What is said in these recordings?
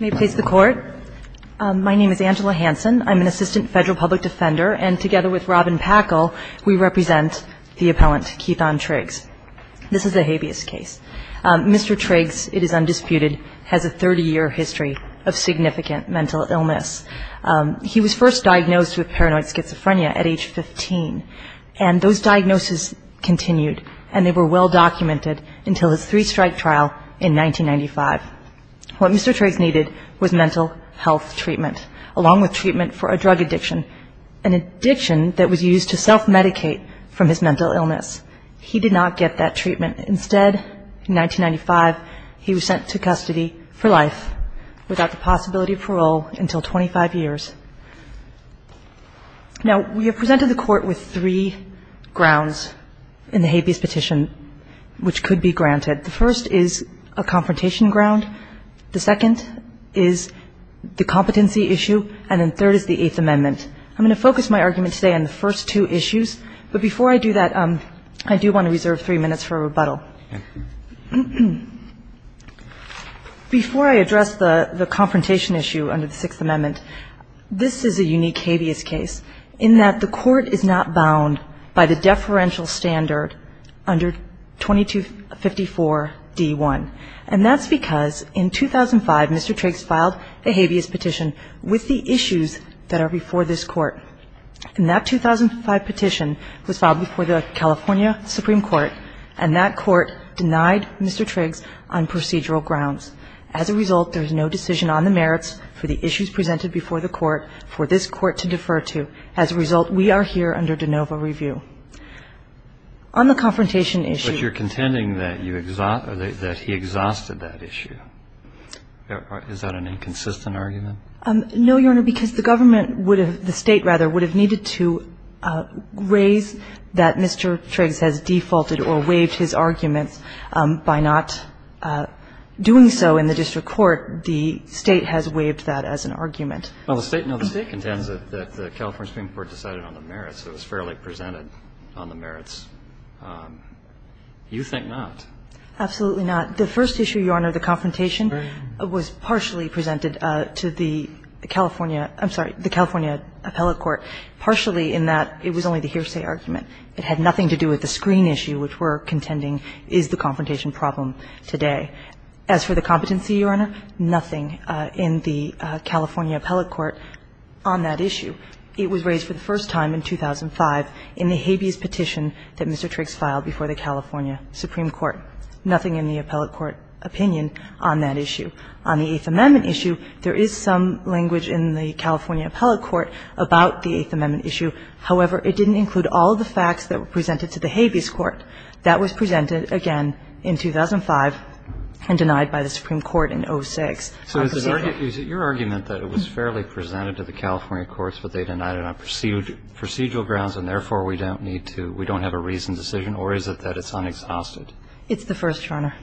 May it please the Court, my name is Angela Hansen, I'm an Assistant Federal Public Defender and together with Robin Packle, we represent the appellant, Keithon Triggs. This is a habeas case. Mr. Triggs, it is undisputed, has a 30-year history of significant mental illness. He was first diagnosed with paranoid schizophrenia at age 15 and those diagnoses continued and they were well documented until his three-strike trial in 1995. What Mr. Triggs needed was mental health treatment, along with treatment for a drug addiction, an addiction that was used to self-medicate from his mental illness. He did not get that treatment. Instead, in 1995, he was sent to custody for life without the possibility of parole until 25 years. Now, we have presented the Court with three grounds in the habeas petition which could be granted. The first is a confrontation ground, the second is the competency issue, and the third is the Eighth Amendment. I'm going to focus my argument today on the first two issues, but before I do that, I do want to reserve three minutes for rebuttal. Before I address the confrontation issue under the Sixth Amendment, this is a unique habeas case in that the Court is not bound by the deferential standard under 2254 D1, and that's because in 2005, Mr. Triggs filed a habeas petition with the issues that are before this Court, and that 2005 petition was filed before the California Supreme Court, and that Court denied Mr. Triggs on procedural grounds. As a result, there is no decision on the merits for the issues presented before the Court for this Court to defer to. As a result, we are here under de novo review. On the confrontation issue. But you're contending that you exhaust or that he exhausted that issue. Is that an inconsistent argument? No, Your Honor, because the government would have, the State rather, would have needed to raise that Mr. Triggs has defaulted or waived his arguments by not doing so in the district court. The State has waived that as an argument. Well, the State, no, the State contends that the California Supreme Court decided on the merits. It was fairly presented on the merits. You think not. Absolutely not. The first issue, Your Honor, the confrontation, was partially presented to the California – I'm sorry, the California appellate court, partially in that it was only the hearsay argument. It had nothing to do with the screen issue, which we're contending is the confrontation problem today. As for the competency, Your Honor, nothing in the California appellate court on that issue. It was raised for the first time in 2005 in the habeas petition that Mr. Triggs filed before the California Supreme Court. Nothing in the appellate court opinion on that issue. On the Eighth Amendment issue, there is some language in the California appellate court about the Eighth Amendment issue. However, it didn't include all the facts that were presented to the habeas court. That was presented again in 2005 and denied by the Supreme Court in 06. So is it your argument that it was fairly presented to the California courts, but they denied it on procedural grounds, and therefore we don't need to – we don't have a reasoned decision, or is it that it's unexhausted? It's the first, Your Honor.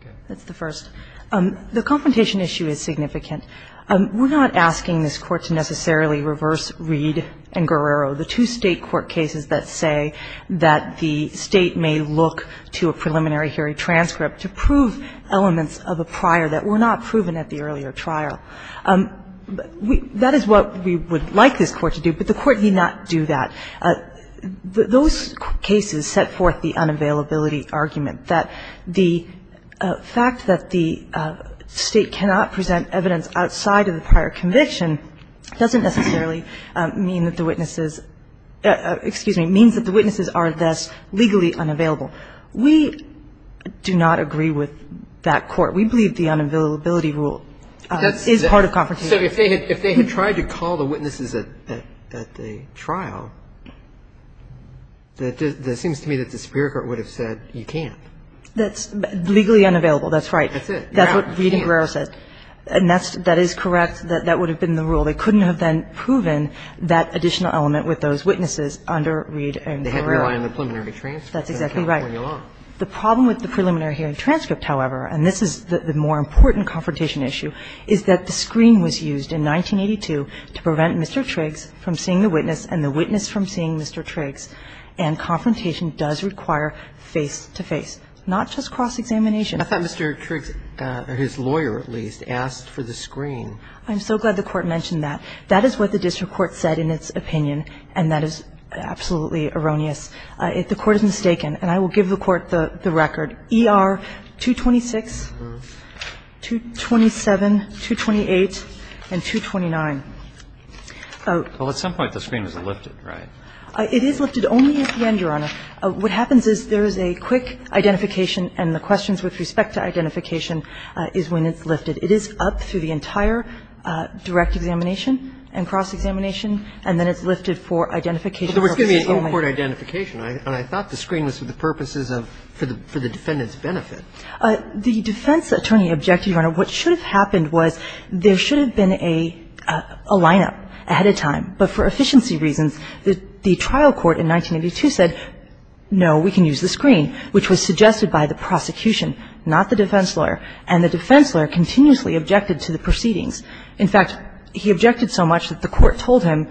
Okay. It's the first. The confrontation issue is significant. We're not asking this Court to necessarily reverse Reed and Guerrero, the two State court cases that say that the State may look to a preliminary hearing transcript to prove elements of a prior that were not proven at the earlier trial. That is what we would like this Court to do, but the Court need not do that. Those cases set forth the unavailability argument that the fact that the State cannot present evidence outside of the prior conviction doesn't necessarily mean that the witnesses – excuse me – means that the witnesses are thus legally unavailable. We do not agree with that Court. We believe the unavailability rule is part of confrontation. So if they had tried to call the witnesses at the trial, that seems to me that the superior court would have said you can't. That's legally unavailable. That's right. That's it. You can't. That's what Reed and Guerrero said. And that is correct. That would have been the rule. They couldn't have then proven that additional element with those witnesses under Reed and Guerrero. They had to rely on the preliminary transcript. That's exactly right. The problem with the preliminary hearing transcript, however, and this is the more important confrontation issue, is that the screen was used in 1982 to prevent Mr. Triggs from seeing the witness and the witness from seeing Mr. Triggs. And confrontation does require face-to-face, not just cross-examination. I thought Mr. Triggs, or his lawyer at least, asked for the screen. I'm so glad the Court mentioned that. That is what the district court said in its opinion, and that is absolutely erroneous. The Court is mistaken, and I will give the Court the record. ER 226, 227, 228, and 229. Well, at some point the screen is lifted, right? It is lifted only at the end, Your Honor. What happens is there is a quick identification, and the questions with respect to identification is when it's lifted. It is up through the entire direct examination and cross-examination, and then it's lifted for identification purposes only. But there was going to be an in-court identification, and I thought the screen was for the purposes of the defendant's benefit. The defense attorney objected, Your Honor. What should have happened was there should have been a lineup ahead of time. But for efficiency reasons, the trial court in 1982 said, no, we can use the screen, which was suggested by the prosecution, not the defense lawyer. And the defense lawyer continuously objected to the proceedings. In fact, he objected so much that the Court told him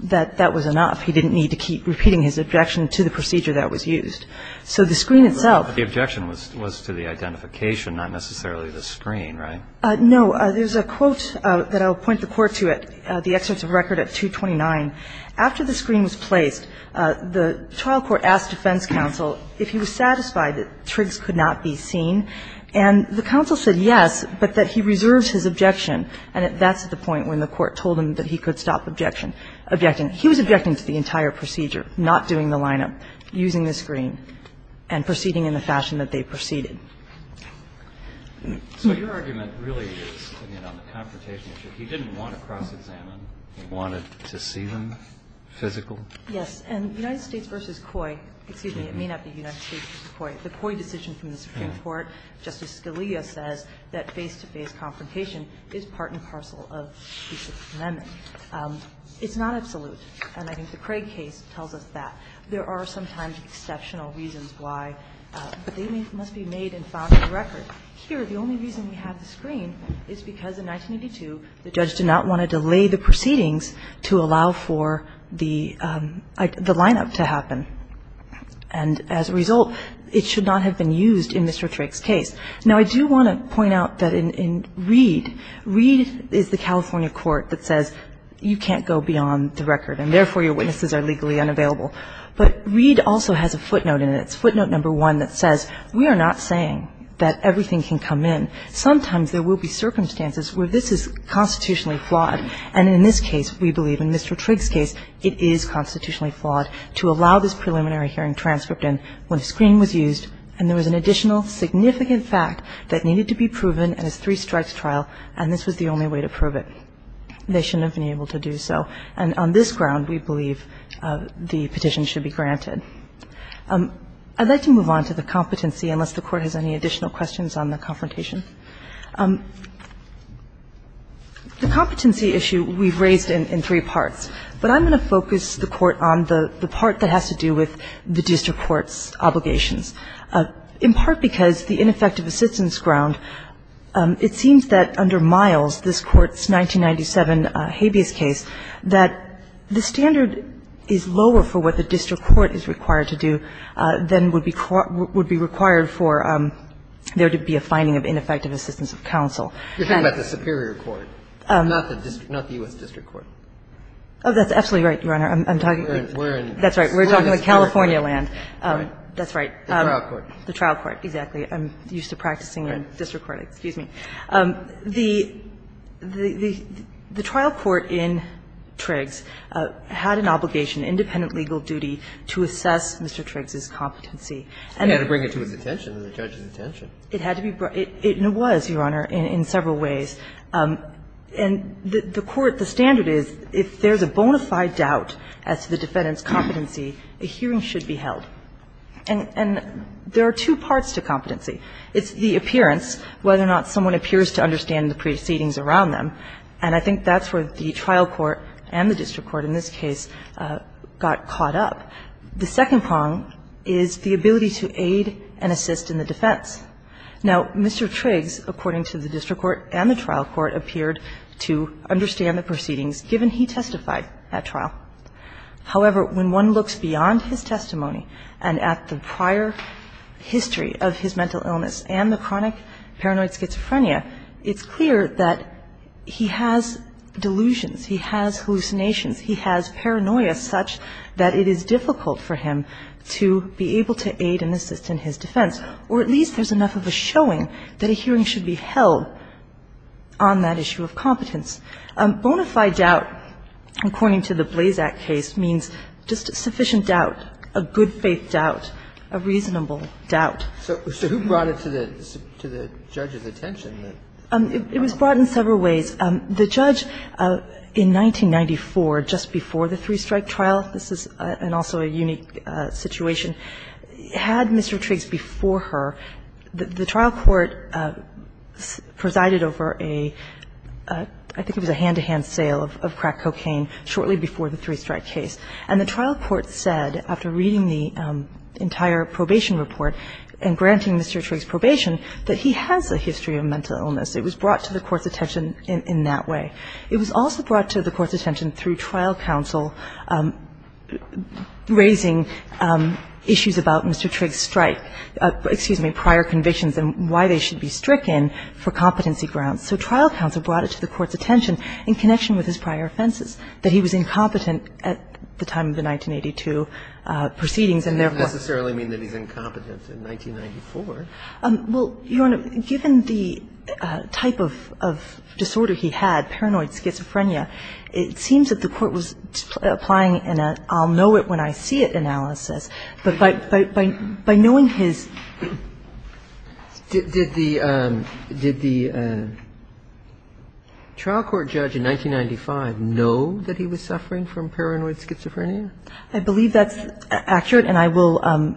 that that was enough. He didn't need to keep repeating his objection to the procedure that was used. So the screen itself. But the objection was to the identification, not necessarily the screen, right? No. There's a quote that I'll point the Court to at the excerpts of record at 229. After the screen was placed, the trial court asked defense counsel if he was satisfied that Triggs could not be seen. And the counsel said yes, but that he reserved his objection. And that's at the point when the Court told him that he could stop objecting. He was objecting to the entire procedure, not doing the lineup, using the screen, and proceeding in the fashion that they proceeded. So your argument really is, you know, the confrontation. He didn't want to cross-examine. He wanted to see them physical. Yes. And United States v. Coy, excuse me, it may not be United States v. Coy. The Coy decision from the Supreme Court, Justice Scalia says that face-to-face confrontation is part and parcel of the Sixth Amendment. It's not absolute. And I think the Craig case tells us that. There are sometimes exceptional reasons why, but they must be made and found in the record. Here, the only reason we have the screen is because in 1982, the judge did not want to delay the proceedings to allow for the lineup to happen. And as a result, it should not have been used in Mr. Trigg's case. Now, I do want to point out that in Reed, Reed is the California court that says you can't go beyond the record, and therefore your witnesses are legally unavailable. But Reed also has a footnote in it. It's footnote number one that says we are not saying that everything can come in. Sometimes there will be circumstances where this is constitutionally flawed, and in this case, we believe, in Mr. Trigg's case, it is constitutionally flawed to allow this preliminary hearing transcript in when a screen was used and there was an additional significant fact that needed to be proven in a three-strike trial, and this was the only way to prove it. They shouldn't have been able to do so. And on this ground, we believe the petition should be granted. I'd like to move on to the competency, unless the Court has any additional questions on the confrontation. The competency issue we've raised in three parts, but I'm going to focus the Court on the part that has to do with the district court's obligations. In part because the ineffective assistance ground, it seems that under Miles, this Court's 1997 habeas case, that the standard is lower for what the district court is required to do than would be required for there to be a finding of ineffective assistance of counsel. And the district court is not the U.S. district court. Oh, that's absolutely right, Your Honor. I'm talking about California land. That's right. The trial court. The trial court, exactly. I'm used to practicing in district court. Excuse me. The trial court in Triggs had an obligation, independent legal duty, to assess Mr. Triggs's competency. It had to bring it to his attention and the judge's attention. It had to be brought. And it was, Your Honor, in several ways. And the Court, the standard is if there's a bona fide doubt as to the defendant's competency, a hearing should be held. And there are two parts to competency. It's the appearance, whether or not someone appears to understand the proceedings around them. And I think that's where the trial court and the district court in this case got caught up. The second prong is the ability to aid and assist in the defense. Now, Mr. Triggs, according to the district court and the trial court, appeared to understand the proceedings, given he testified at trial. However, when one looks beyond his testimony and at the prior history of his mental illness and the chronic paranoid schizophrenia, it's clear that he has delusions. He has hallucinations. He has paranoia such that it is difficult for him to be able to aid and assist in his defense, or at least there's enough of a showing that a hearing should be held on that issue of competence. Bona fide doubt, according to the Blazak case, means just sufficient doubt, a good-faith doubt, a reasonable doubt. So who brought it to the judge's attention? It was brought in several ways. The judge, in 1994, just before the three-strike trial, this is also a unique situation, had Mr. Triggs before her. The trial court presided over a, I think it was a hand-to-hand sale of crack cocaine shortly before the three-strike case. And the trial court said, after reading the entire probation report and granting Mr. Triggs probation, that he has a history of mental illness. It was brought to the court's attention in that way. It was also brought to the court's attention through trial counsel raising issues about Mr. Triggs' strike, excuse me, prior convictions and why they should be stricken for competency grounds. So trial counsel brought it to the court's attention in connection with his prior offenses, that he was incompetent at the time of the 1982 proceedings and therefore He didn't necessarily mean that he's incompetent in 1994. Well, Your Honor, given the type of disorder he had, paranoid schizophrenia, it seems that the court was applying an I'll-know-it-when-I-see-it analysis. But by knowing his ---- Did the trial court judge in 1995 know that he was suffering from paranoid schizophrenia? I believe that's accurate, and I will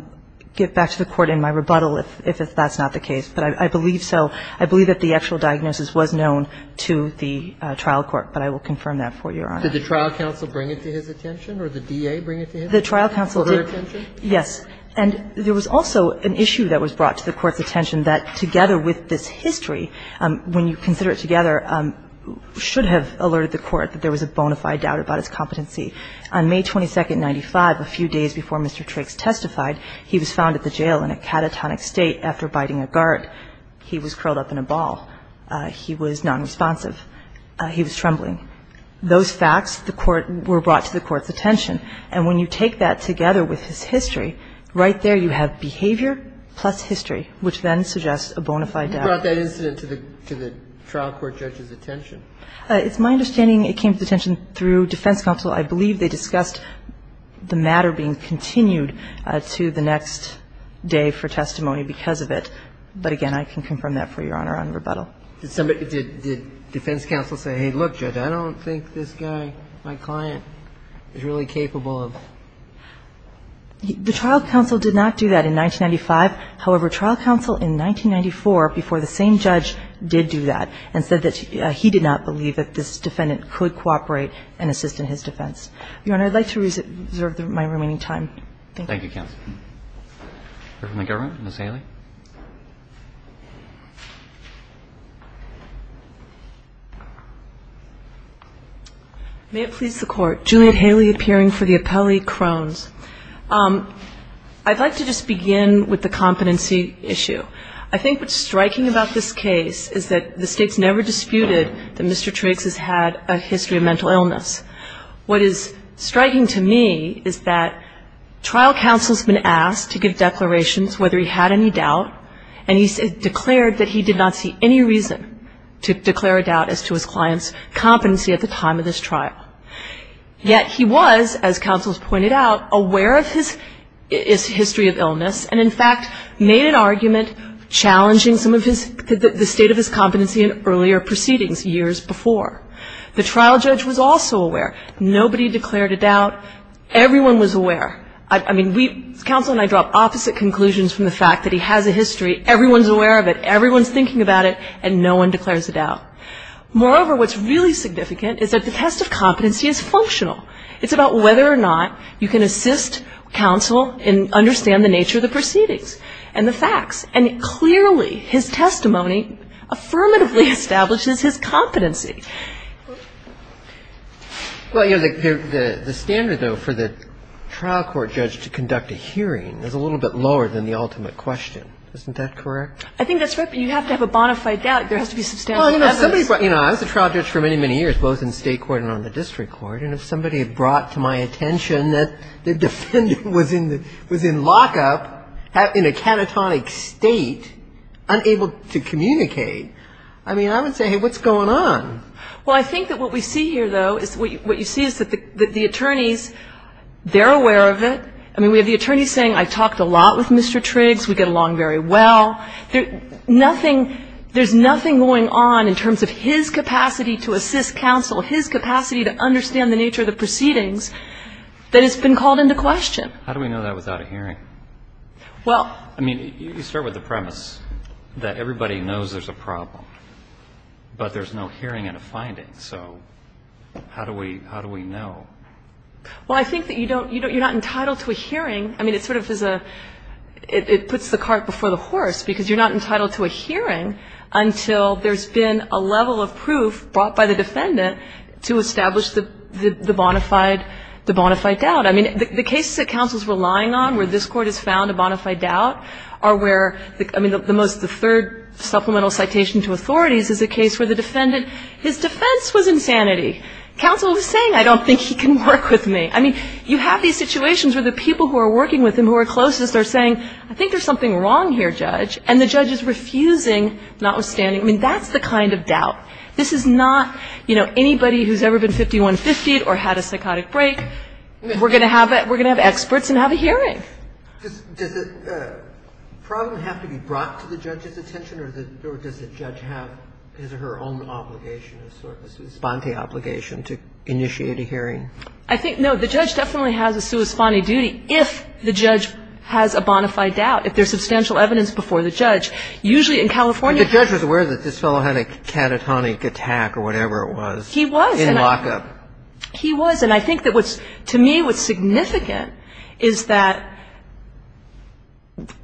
get back to the court in my rebuttal if that's not the case. But I believe so. I believe that the actual diagnosis was known to the trial court, but I will confirm that for you, Your Honor. Did the trial counsel bring it to his attention or the DA bring it to his attention? The trial counsel did. Yes. And there was also an issue that was brought to the court's attention that, together with this history, when you consider it together, should have alerted the court that there was a bona fide doubt about his competency. On May 22, 1995, a few days before Mr. Triggs testified, he was found at the jail in a catatonic state after biting a guard. He was curled up in a ball. He was nonresponsive. He was trembling. Those facts were brought to the court's attention. And when you take that together with his history, right there you have behavior plus history, which then suggests a bona fide doubt. You brought that incident to the trial court judge's attention. It's my understanding it came to attention through defense counsel. I believe they discussed the matter being continued to the next day for testimony because of it. But, again, I can confirm that for you, Your Honor, on rebuttal. Did defense counsel say, hey, look, Judge, I don't think this guy, my client, is really capable of ---- The trial counsel did not do that in 1995. However, trial counsel in 1994, before the same judge did do that and said that he did not believe that this defendant could cooperate and assist in his defense. Your Honor, I'd like to reserve my remaining time. Thank you. Thank you, counsel. We're from the government. Ms. Haley. May it please the Court. Juliet Haley, appearing for the appellee, Krones. I'd like to just begin with the competency issue. I think what's striking about this case is that the State's never disputed that Mr. Trakes has had a history of mental illness. What is striking to me is that trial counsel's been asked to give declarations whether he had any doubt, and he declared that he did not see any reason to declare a doubt as to his client's competency at the time of this trial. Yet he was, as counsel's pointed out, aware of his history of illness and, in fact, made an argument challenging some of the state of his competency in earlier proceedings years before. The trial judge was also aware. Nobody declared a doubt. Everyone was aware. I mean, counsel and I draw opposite conclusions from the fact that he has a history. Everyone's aware of it. Everyone's thinking about it, and no one declares a doubt. Moreover, what's really significant is that the test of competency is functional. It's about whether or not you can assist counsel in understanding the nature of the proceedings and the facts, and clearly his testimony affirmatively establishes his competency. Well, you know, the standard, though, for the trial court judge to conduct a hearing is a little bit lower than the ultimate question. Isn't that correct? I think that's right, but you have to have a bona fide doubt. There has to be substantial evidence. Well, you know, I was a trial judge for many, many years, both in State court and on the district court, and if somebody had brought to my attention that the defendant was in lockup, in a catatonic state, unable to communicate, I mean, I would say, hey, what's going on? Well, I think that what we see here, though, is what you see is that the attorneys, they're aware of it. I mean, we have the attorneys saying, I talked a lot with Mr. Triggs. We get along very well. Nothing, there's nothing going on in terms of his capacity to assist counsel, his capacity to understand the nature of the proceedings that has been called into question. How do we know that without a hearing? Well. I mean, you start with the premise that everybody knows there's a problem, but there's no hearing and a finding. So how do we know? Well, I think that you don't, you're not entitled to a hearing. I mean, it sort of is a, it puts the cart before the horse, because you're not entitled to a hearing until there's been a level of proof brought by the defendant to establish the bona fide doubt. I mean, the cases that counsel's relying on where this Court has found a bona fide doubt are where, I mean, the third supplemental citation to authorities is a case where the defendant, his defense was insanity. Counsel was saying, I don't think he can work with me. I mean, you have these situations where the people who are working with him, who are closest, are saying, I think there's something wrong here, Judge, and the judge is refusing, notwithstanding. I mean, that's the kind of doubt. This is not, you know, anybody who's ever been 5150'd or had a psychotic break. We're going to have experts and have a hearing. Does the problem have to be brought to the judge's attention, or does the judge have his or her own obligation, a sort of esponte obligation to initiate a hearing? I think, no, the judge definitely has a sua sponte duty if the judge has a bona fide doubt, if there's substantial evidence before the judge. Usually in California the judge was aware that this fellow had a catatonic attack or whatever it was. He was. In lockup. He was. And I think that what's, to me, what's significant is that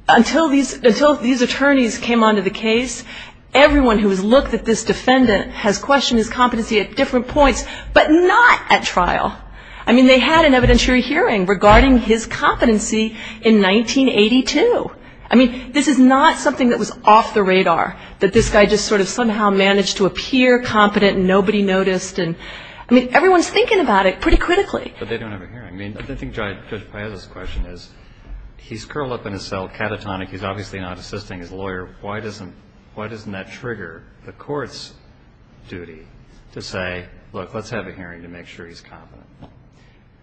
until these attorneys came onto the case, everyone who has looked at this defendant has questioned his competency at different points, but not at trial. I mean, they had an evidentiary hearing regarding his competency in 1982. I mean, this is not something that was off the radar, that this guy just sort of somehow managed to appear competent and nobody noticed. I mean, everyone's thinking about it pretty critically. But they don't have a hearing. I mean, I think Judge Paez's question is, he's curled up in his cell catatonic. He's obviously not assisting his lawyer. Why doesn't that trigger the court's duty to say, look, let's have a hearing to make sure he's competent?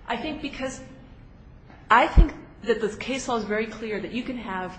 I think because I think that the case law is very clear that you can have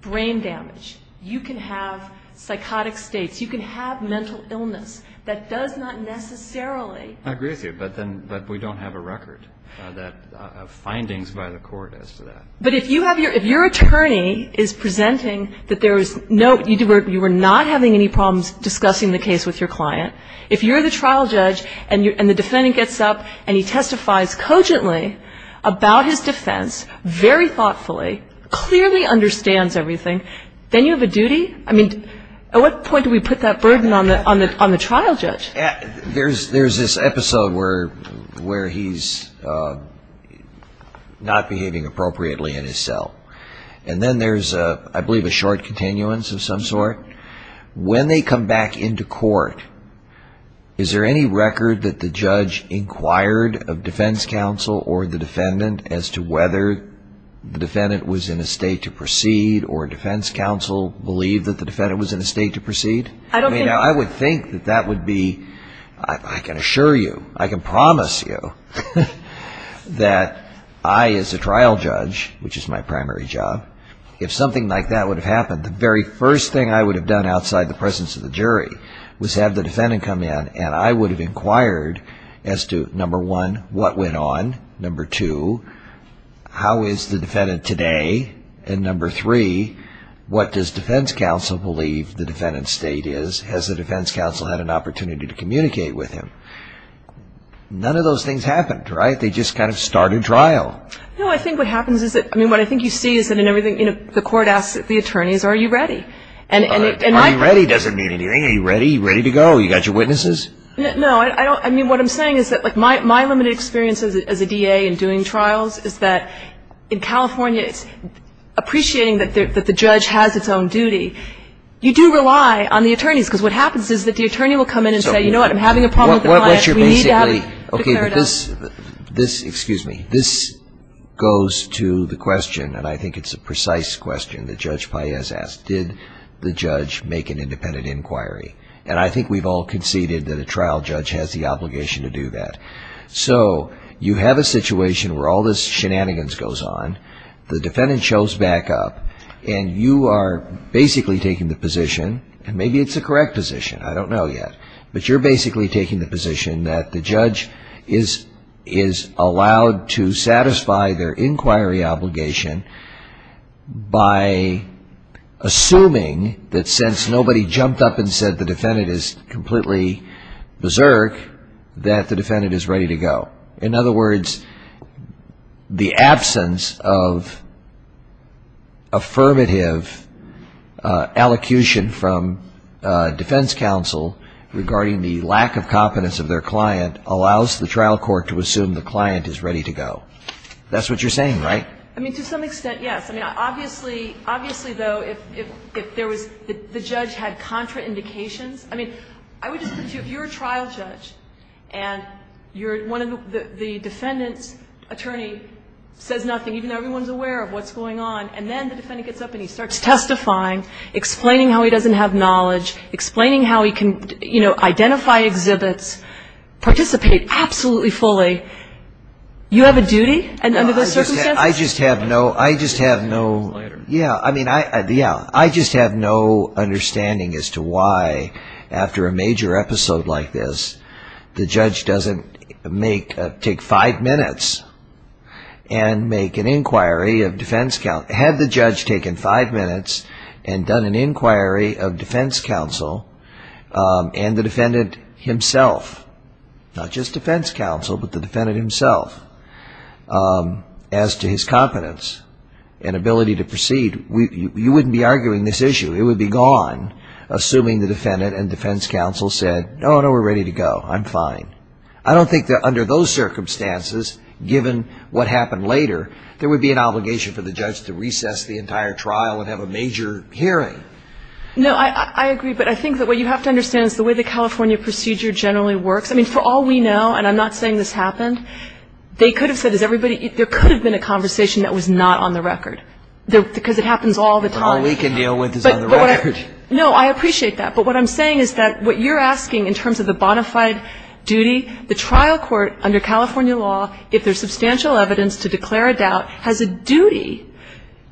brain damage. You can have psychotic states. You can have mental illness. That does not necessarily. I agree with you. But we don't have a record of findings by the court as to that. But if you have your attorney is presenting that there is no, you were not having any problems discussing the case with your client, if you're the trial judge and the defendant gets up and he testifies cogently about his defense, very thoughtfully, clearly understands everything, then you have a duty? I mean, at what point do we put that burden on the trial judge? There's this episode where he's not behaving appropriately in his cell. And then there's, I believe, a short continuance of some sort. When they come back into court, is there any record that the judge inquired of defense counsel or the defendant as to whether the defendant was in a state to proceed or defense counsel believed that the defendant was in a state to proceed? I would think that that would be, I can assure you, I can promise you, that I as a trial judge, which is my primary job, if something like that would have happened, the very first thing I would have done outside the presence of the jury was have the defendant come in and I would have inquired as to, number one, what went on? Number two, how is the defendant today? And number three, what does defense counsel believe the defendant's state is? Has the defense counsel had an opportunity to communicate with him? None of those things happened, right? They just kind of started trial. No, I think what happens is that, I mean, what I think you see is that in everything, you know, the court asks the attorneys, are you ready? Are you ready doesn't mean anything. Are you ready? You ready to go? You got your witnesses? No, I don't. I mean, what I'm saying is that my limited experience as a DA in doing trials is that in California it's appreciating that the judge has its own duty. You do rely on the attorneys because what happens is that the attorney will come in and say, you know what, I'm having a problem with the client. We need to have a declarative. Okay, but this, excuse me, this goes to the question, and I think it's a precise question that Judge Paez asked, did the judge make an independent inquiry? And I think we've all conceded that a trial judge has the obligation to do that. So you have a situation where all this shenanigans goes on, the defendant shows back up, and you are basically taking the position, and maybe it's a correct position, I don't know yet, but you're basically taking the position that the judge is allowed to satisfy their inquiry obligation by assuming that since nobody jumped up and said the defendant is completely berserk, that the defendant is ready to go. In other words, the absence of affirmative allocution from defense counsel regarding the lack of competence of their client allows the trial court to assume the client is ready to go. That's what you're saying, right? I mean, to some extent, yes. I mean, obviously, though, if the judge had contraindications, I mean, if you're a trial judge and the defendant's attorney says nothing, even though everyone's aware of what's going on, and then the defendant gets up and he starts testifying, explaining how he doesn't have knowledge, explaining how he can, you know, identify exhibits, participate absolutely fully, you have a duty under those circumstances? I just have no understanding as to why, after a major episode like this, the judge doesn't take five minutes and make an inquiry of defense counsel. Had the judge taken five minutes and done an inquiry of defense counsel and the defendant himself, not just defense counsel, but the defendant himself, as to his competence and ability to proceed, you wouldn't be arguing this issue. It would be gone, assuming the defendant and defense counsel said, oh, no, we're ready to go, I'm fine. I don't think that under those circumstances, given what happened later, there would be an obligation for the judge to recess the entire trial and have a major hearing. No, I agree, but I think that what you have to understand is the way the California procedure generally works, I mean, for all we know, and I'm not saying this happened, they could have said, there could have been a conversation that was not on the record, because it happens all the time. All we can deal with is on the record. No, I appreciate that, but what I'm saying is that what you're asking in terms of the bona fide duty, the trial court under California law, if there's substantial evidence to declare a doubt, has a duty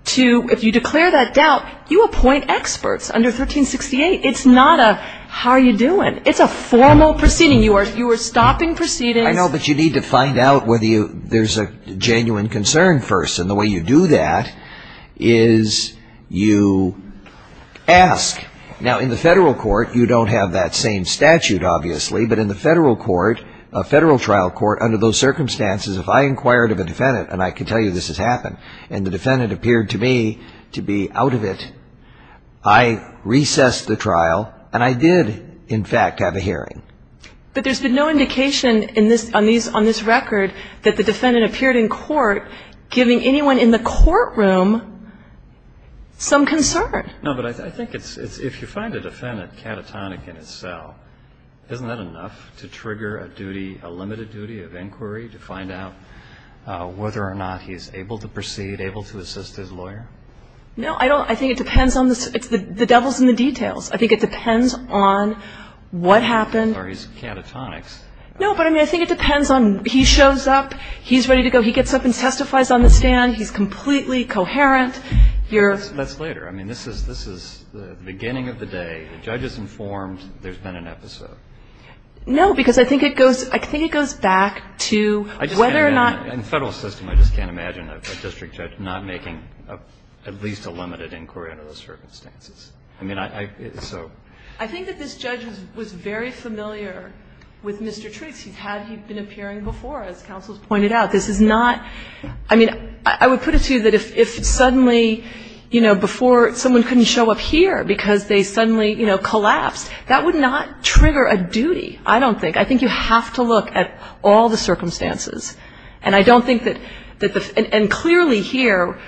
to, if you declare that doubt, you appoint experts under 1368. It's not a how are you doing. It's a formal proceeding. You are stopping proceedings. I know, but you need to find out whether there's a genuine concern first. And the way you do that is you ask. Now, in the federal court, you don't have that same statute, obviously, but in the federal court, a federal trial court, under those circumstances, if I inquired of a defendant, and I can tell you this has happened, and the defendant appeared to me to be out of it, I recessed the trial, and I did, in fact, have a hearing. But there's been no indication on this record that the defendant appeared in court, giving anyone in the courtroom some concern. No, but I think it's, if you find a defendant catatonic in its cell, isn't that enough to trigger a duty, a limited duty of inquiry to find out whether or not he's able to proceed, able to assist his lawyer? No, I don't. I think it depends on the devil's in the details. I think it depends on what happened. Or he's catatonics. No, but I mean, I think it depends on he shows up, he's ready to go, he gets up and testifies on the stand, he's completely coherent. That's later. I mean, this is the beginning of the day. The judge is informed there's been an episode. No, because I think it goes, I think it goes back to whether or not. In the Federal system, I just can't imagine a district judge not making at least a limited inquiry under those circumstances. I mean, I, so. I think that this judge was very familiar with Mr. Trix. He's had, he'd been appearing before, as counsel's pointed out. This is not, I mean, I would put it to you that if suddenly, you know, before, someone couldn't show up here because they suddenly, you know, collapsed, that would not trigger a duty. I don't think. I think you have to look at all the circumstances. And I don't think that the, and clearly here,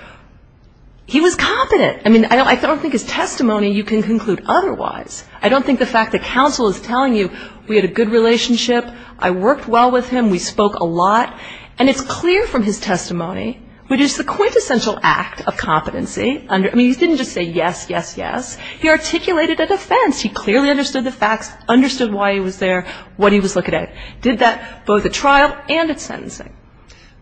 he was competent. I mean, I don't think his testimony you can conclude otherwise. I don't think the fact that counsel is telling you, we had a good relationship, I worked well with him, we spoke a lot. And it's clear from his testimony, which is the quintessential act of competency. I mean, he didn't just say yes, yes, yes. He articulated a defense. He clearly understood the facts, understood why he was there, what he was looking at. Did that both at trial and at sentencing.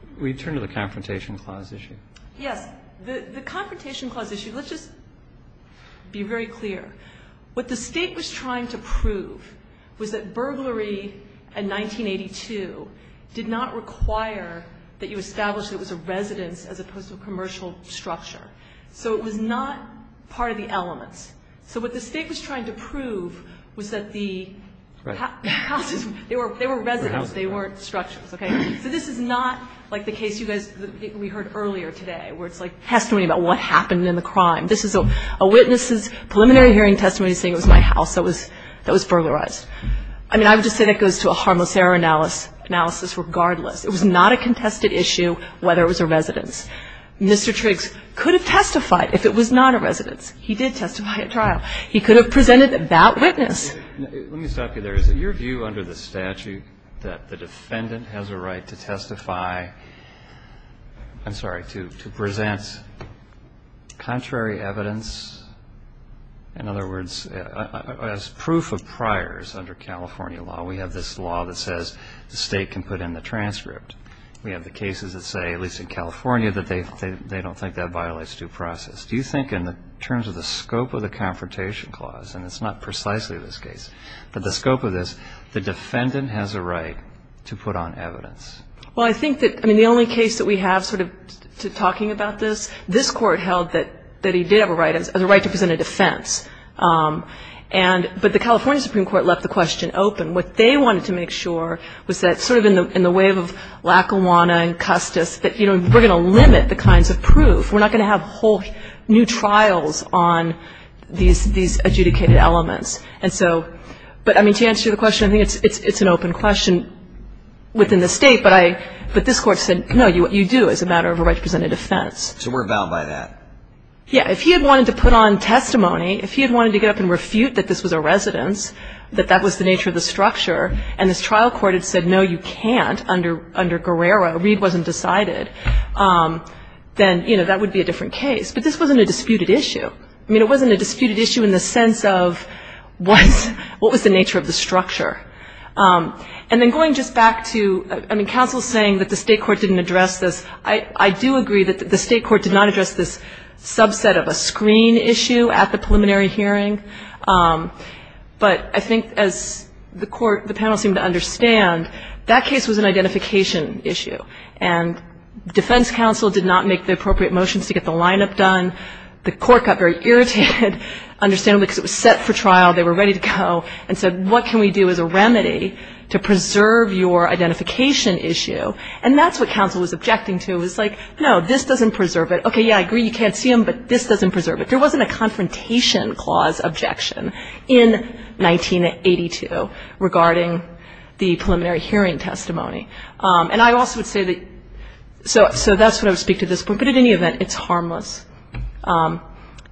Roberts. We turn to the Confrontation Clause issue. Yes. The Confrontation Clause issue, let's just be very clear. What the State was trying to prove was that burglary in 1982 did not require that you establish that it was a residence as opposed to a commercial structure. So it was not part of the elements. So what the State was trying to prove was that the houses, they were residents, they weren't structures, okay? So this is not like the case you guys, we heard earlier today, where it's like testimony about what happened in the crime. This is a witness's preliminary hearing testimony saying it was my house that was burglarized. I mean, I would just say that goes to a harmless error analysis regardless. It was not a contested issue whether it was a residence. Mr. Triggs could have testified if it was not a residence. He did testify at trial. He could have presented that witness. Let me stop you there. Is it your view under the statute that the defendant has a right to testify to present contrary evidence? In other words, as proof of priors under California law, we have this law that says the State can put in the transcript. We have the cases that say, at least in California, that they don't think that violates due process. Do you think in terms of the scope of the Confrontation Clause, and it's not precisely this case, but the scope of this, the defendant has a right to put on evidence? Well, I think that the only case that we have sort of talking about this, this Court held that he did have a right to present a defense. But the California Supreme Court left the question open. What they wanted to make sure was that sort of in the wave of Lackawanna and Custis, that, you know, we're going to limit the kinds of proof. We're not going to have whole new trials on these adjudicated elements. And so, but, I mean, to answer your question, I think it's an open question within the State. But this Court said, no, what you do is a matter of a right to present a defense. So we're bound by that? Yeah. If he had wanted to put on testimony, if he had wanted to get up and refute that this was a residence, that that was the nature of the structure, and this trial court had said, no, you can't under Guerrero, Reed wasn't decided, then, you know, that would be a different case. But this wasn't a disputed issue. I mean, it wasn't a disputed issue in the sense of what was the nature of the structure. And then going just back to, I mean, counsel saying that the State court didn't address this. I do agree that the State court did not address this subset of a screen issue at the preliminary hearing. But I think as the court, the panel seemed to understand, that case was an identification issue. And defense counsel did not make the appropriate motions to get the lineup done. The court got very irritated, understandably, because it was set for trial, they were ready to go, and said, what can we do as a remedy to preserve your identification issue? And that's what counsel was objecting to. It was like, no, this doesn't preserve it. Okay, yeah, I agree, you can't see him, but this doesn't preserve it. There wasn't a confrontation clause objection in 1982 regarding the preliminary hearing testimony. And I also would say that, so that's what I would speak to at this point. But at any event, it's harmless.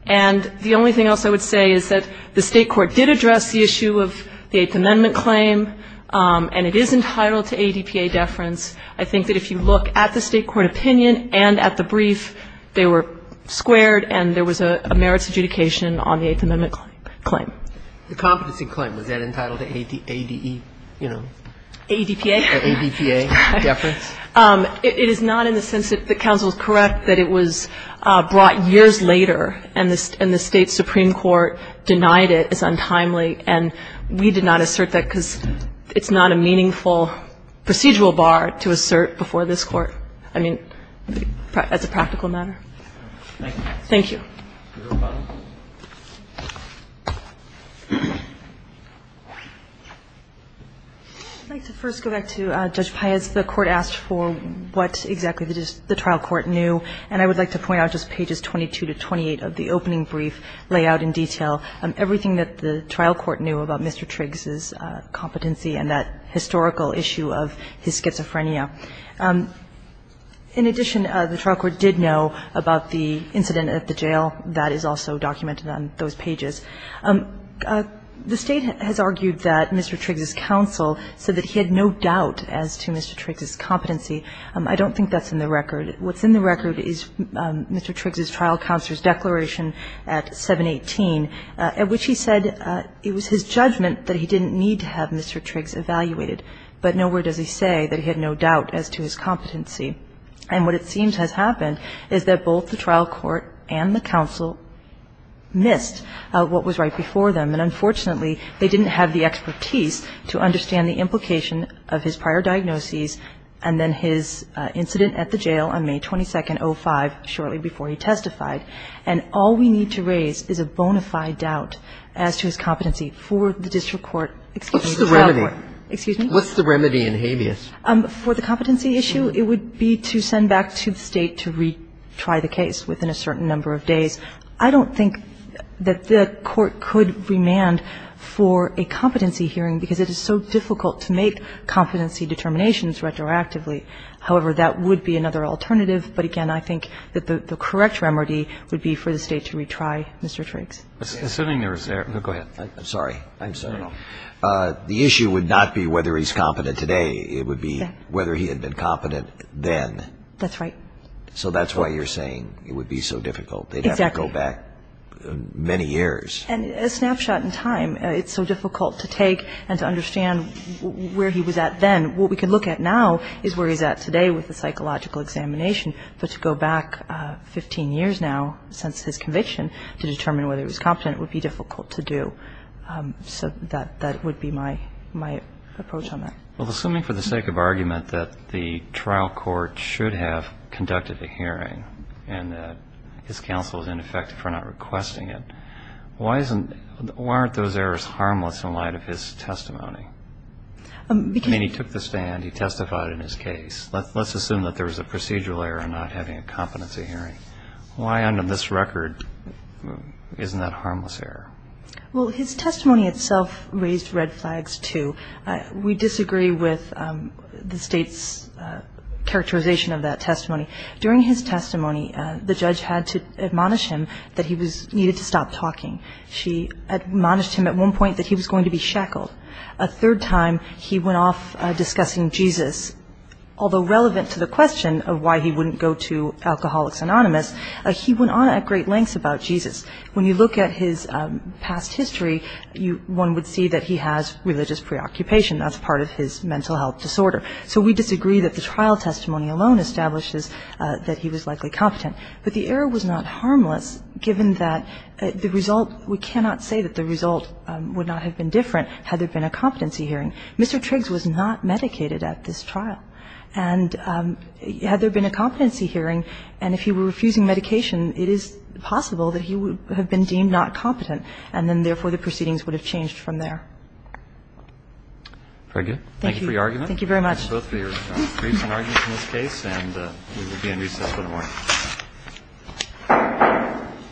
And the only thing else I would say is that the State court did address the issue of the Eighth Amendment claim, and it is entitled to ADPA deference. I think that if you look at the State court opinion and at the brief, they were in favor of merits adjudication on the Eighth Amendment claim. The competency claim, was that entitled to ADE, you know? ADPA. ADPA deference. It is not in the sense that counsel is correct that it was brought years later and the State supreme court denied it as untimely. And we did not assert that because it's not a meaningful procedural bar to assert before this Court. I mean, as a practical matter. Thank you. Mr. O'Connell. I'd like to first go back to Judge Paez. The Court asked for what exactly the trial court knew. And I would like to point out just pages 22 to 28 of the opening brief layout in detail, everything that the trial court knew about Mr. Triggs's competency and that historical issue of his schizophrenia. In addition, the trial court did know about the incident at the jail. That is also documented on those pages. The State has argued that Mr. Triggs's counsel said that he had no doubt as to Mr. Triggs's competency. I don't think that's in the record. What's in the record is Mr. Triggs's trial counselor's declaration at 718, at which he said it was his judgment that he didn't need to have Mr. Triggs evaluated. But nowhere does he say that he had no doubt as to his competency. And what it seems has happened is that both the trial court and the counsel missed what was right before them. And unfortunately, they didn't have the expertise to understand the implication of his prior diagnoses and then his incident at the jail on May 22, 2005, shortly before he testified. And all we need to raise is a bona fide doubt as to his competency for the district court. What's the remedy? Excuse me? What's the remedy in habeas? For the competency issue, it would be to send back to the State to retry the case within a certain number of days. I don't think that the Court could remand for a competency hearing, because it is so difficult to make competency determinations retroactively. However, that would be another alternative. But again, I think that the correct remedy would be for the State to retry Mr. Triggs. Assuming there was error. Go ahead. I'm sorry. I'm sorry. The issue would not be whether he's competent today. It would be whether he had been competent then. That's right. So that's why you're saying it would be so difficult. Exactly. They'd have to go back many years. And a snapshot in time. It's so difficult to take and to understand where he was at then. What we can look at now is where he's at today with the psychological examination. But to go back 15 years now since his conviction to determine whether he was competent would be difficult to do. So that would be my approach on that. Well, assuming for the sake of argument that the trial court should have conducted the hearing and that his counsel is ineffective for not requesting it, why aren't those errors harmless in light of his testimony? I mean, he took the stand. He testified in his case. Let's assume that there was a procedural error in not having a competency hearing. Why on this record isn't that harmless error? Well, his testimony itself raised red flags, too. We disagree with the State's characterization of that testimony. During his testimony, the judge had to admonish him that he needed to stop talking. She admonished him at one point that he was going to be shackled. A third time he went off discussing Jesus. Although relevant to the question of why he wouldn't go to Alcoholics Anonymous, he went on at great lengths about Jesus. When you look at his past history, one would see that he has religious preoccupation. That's part of his mental health disorder. So we disagree that the trial testimony alone establishes that he was likely competent. But the error was not harmless given that the result we cannot say that the result would not have been different had there been a competency hearing. Mr. Triggs was not medicated at this trial. And had there been a competency hearing, and if he were refusing medication, it is possible that he would have been deemed not competent, and then, therefore, the proceedings would have changed from there. Thank you for your argument. Thank you very much. Thank you both for your briefs and arguments in this case. And we will be in recess for the morning. Thank you.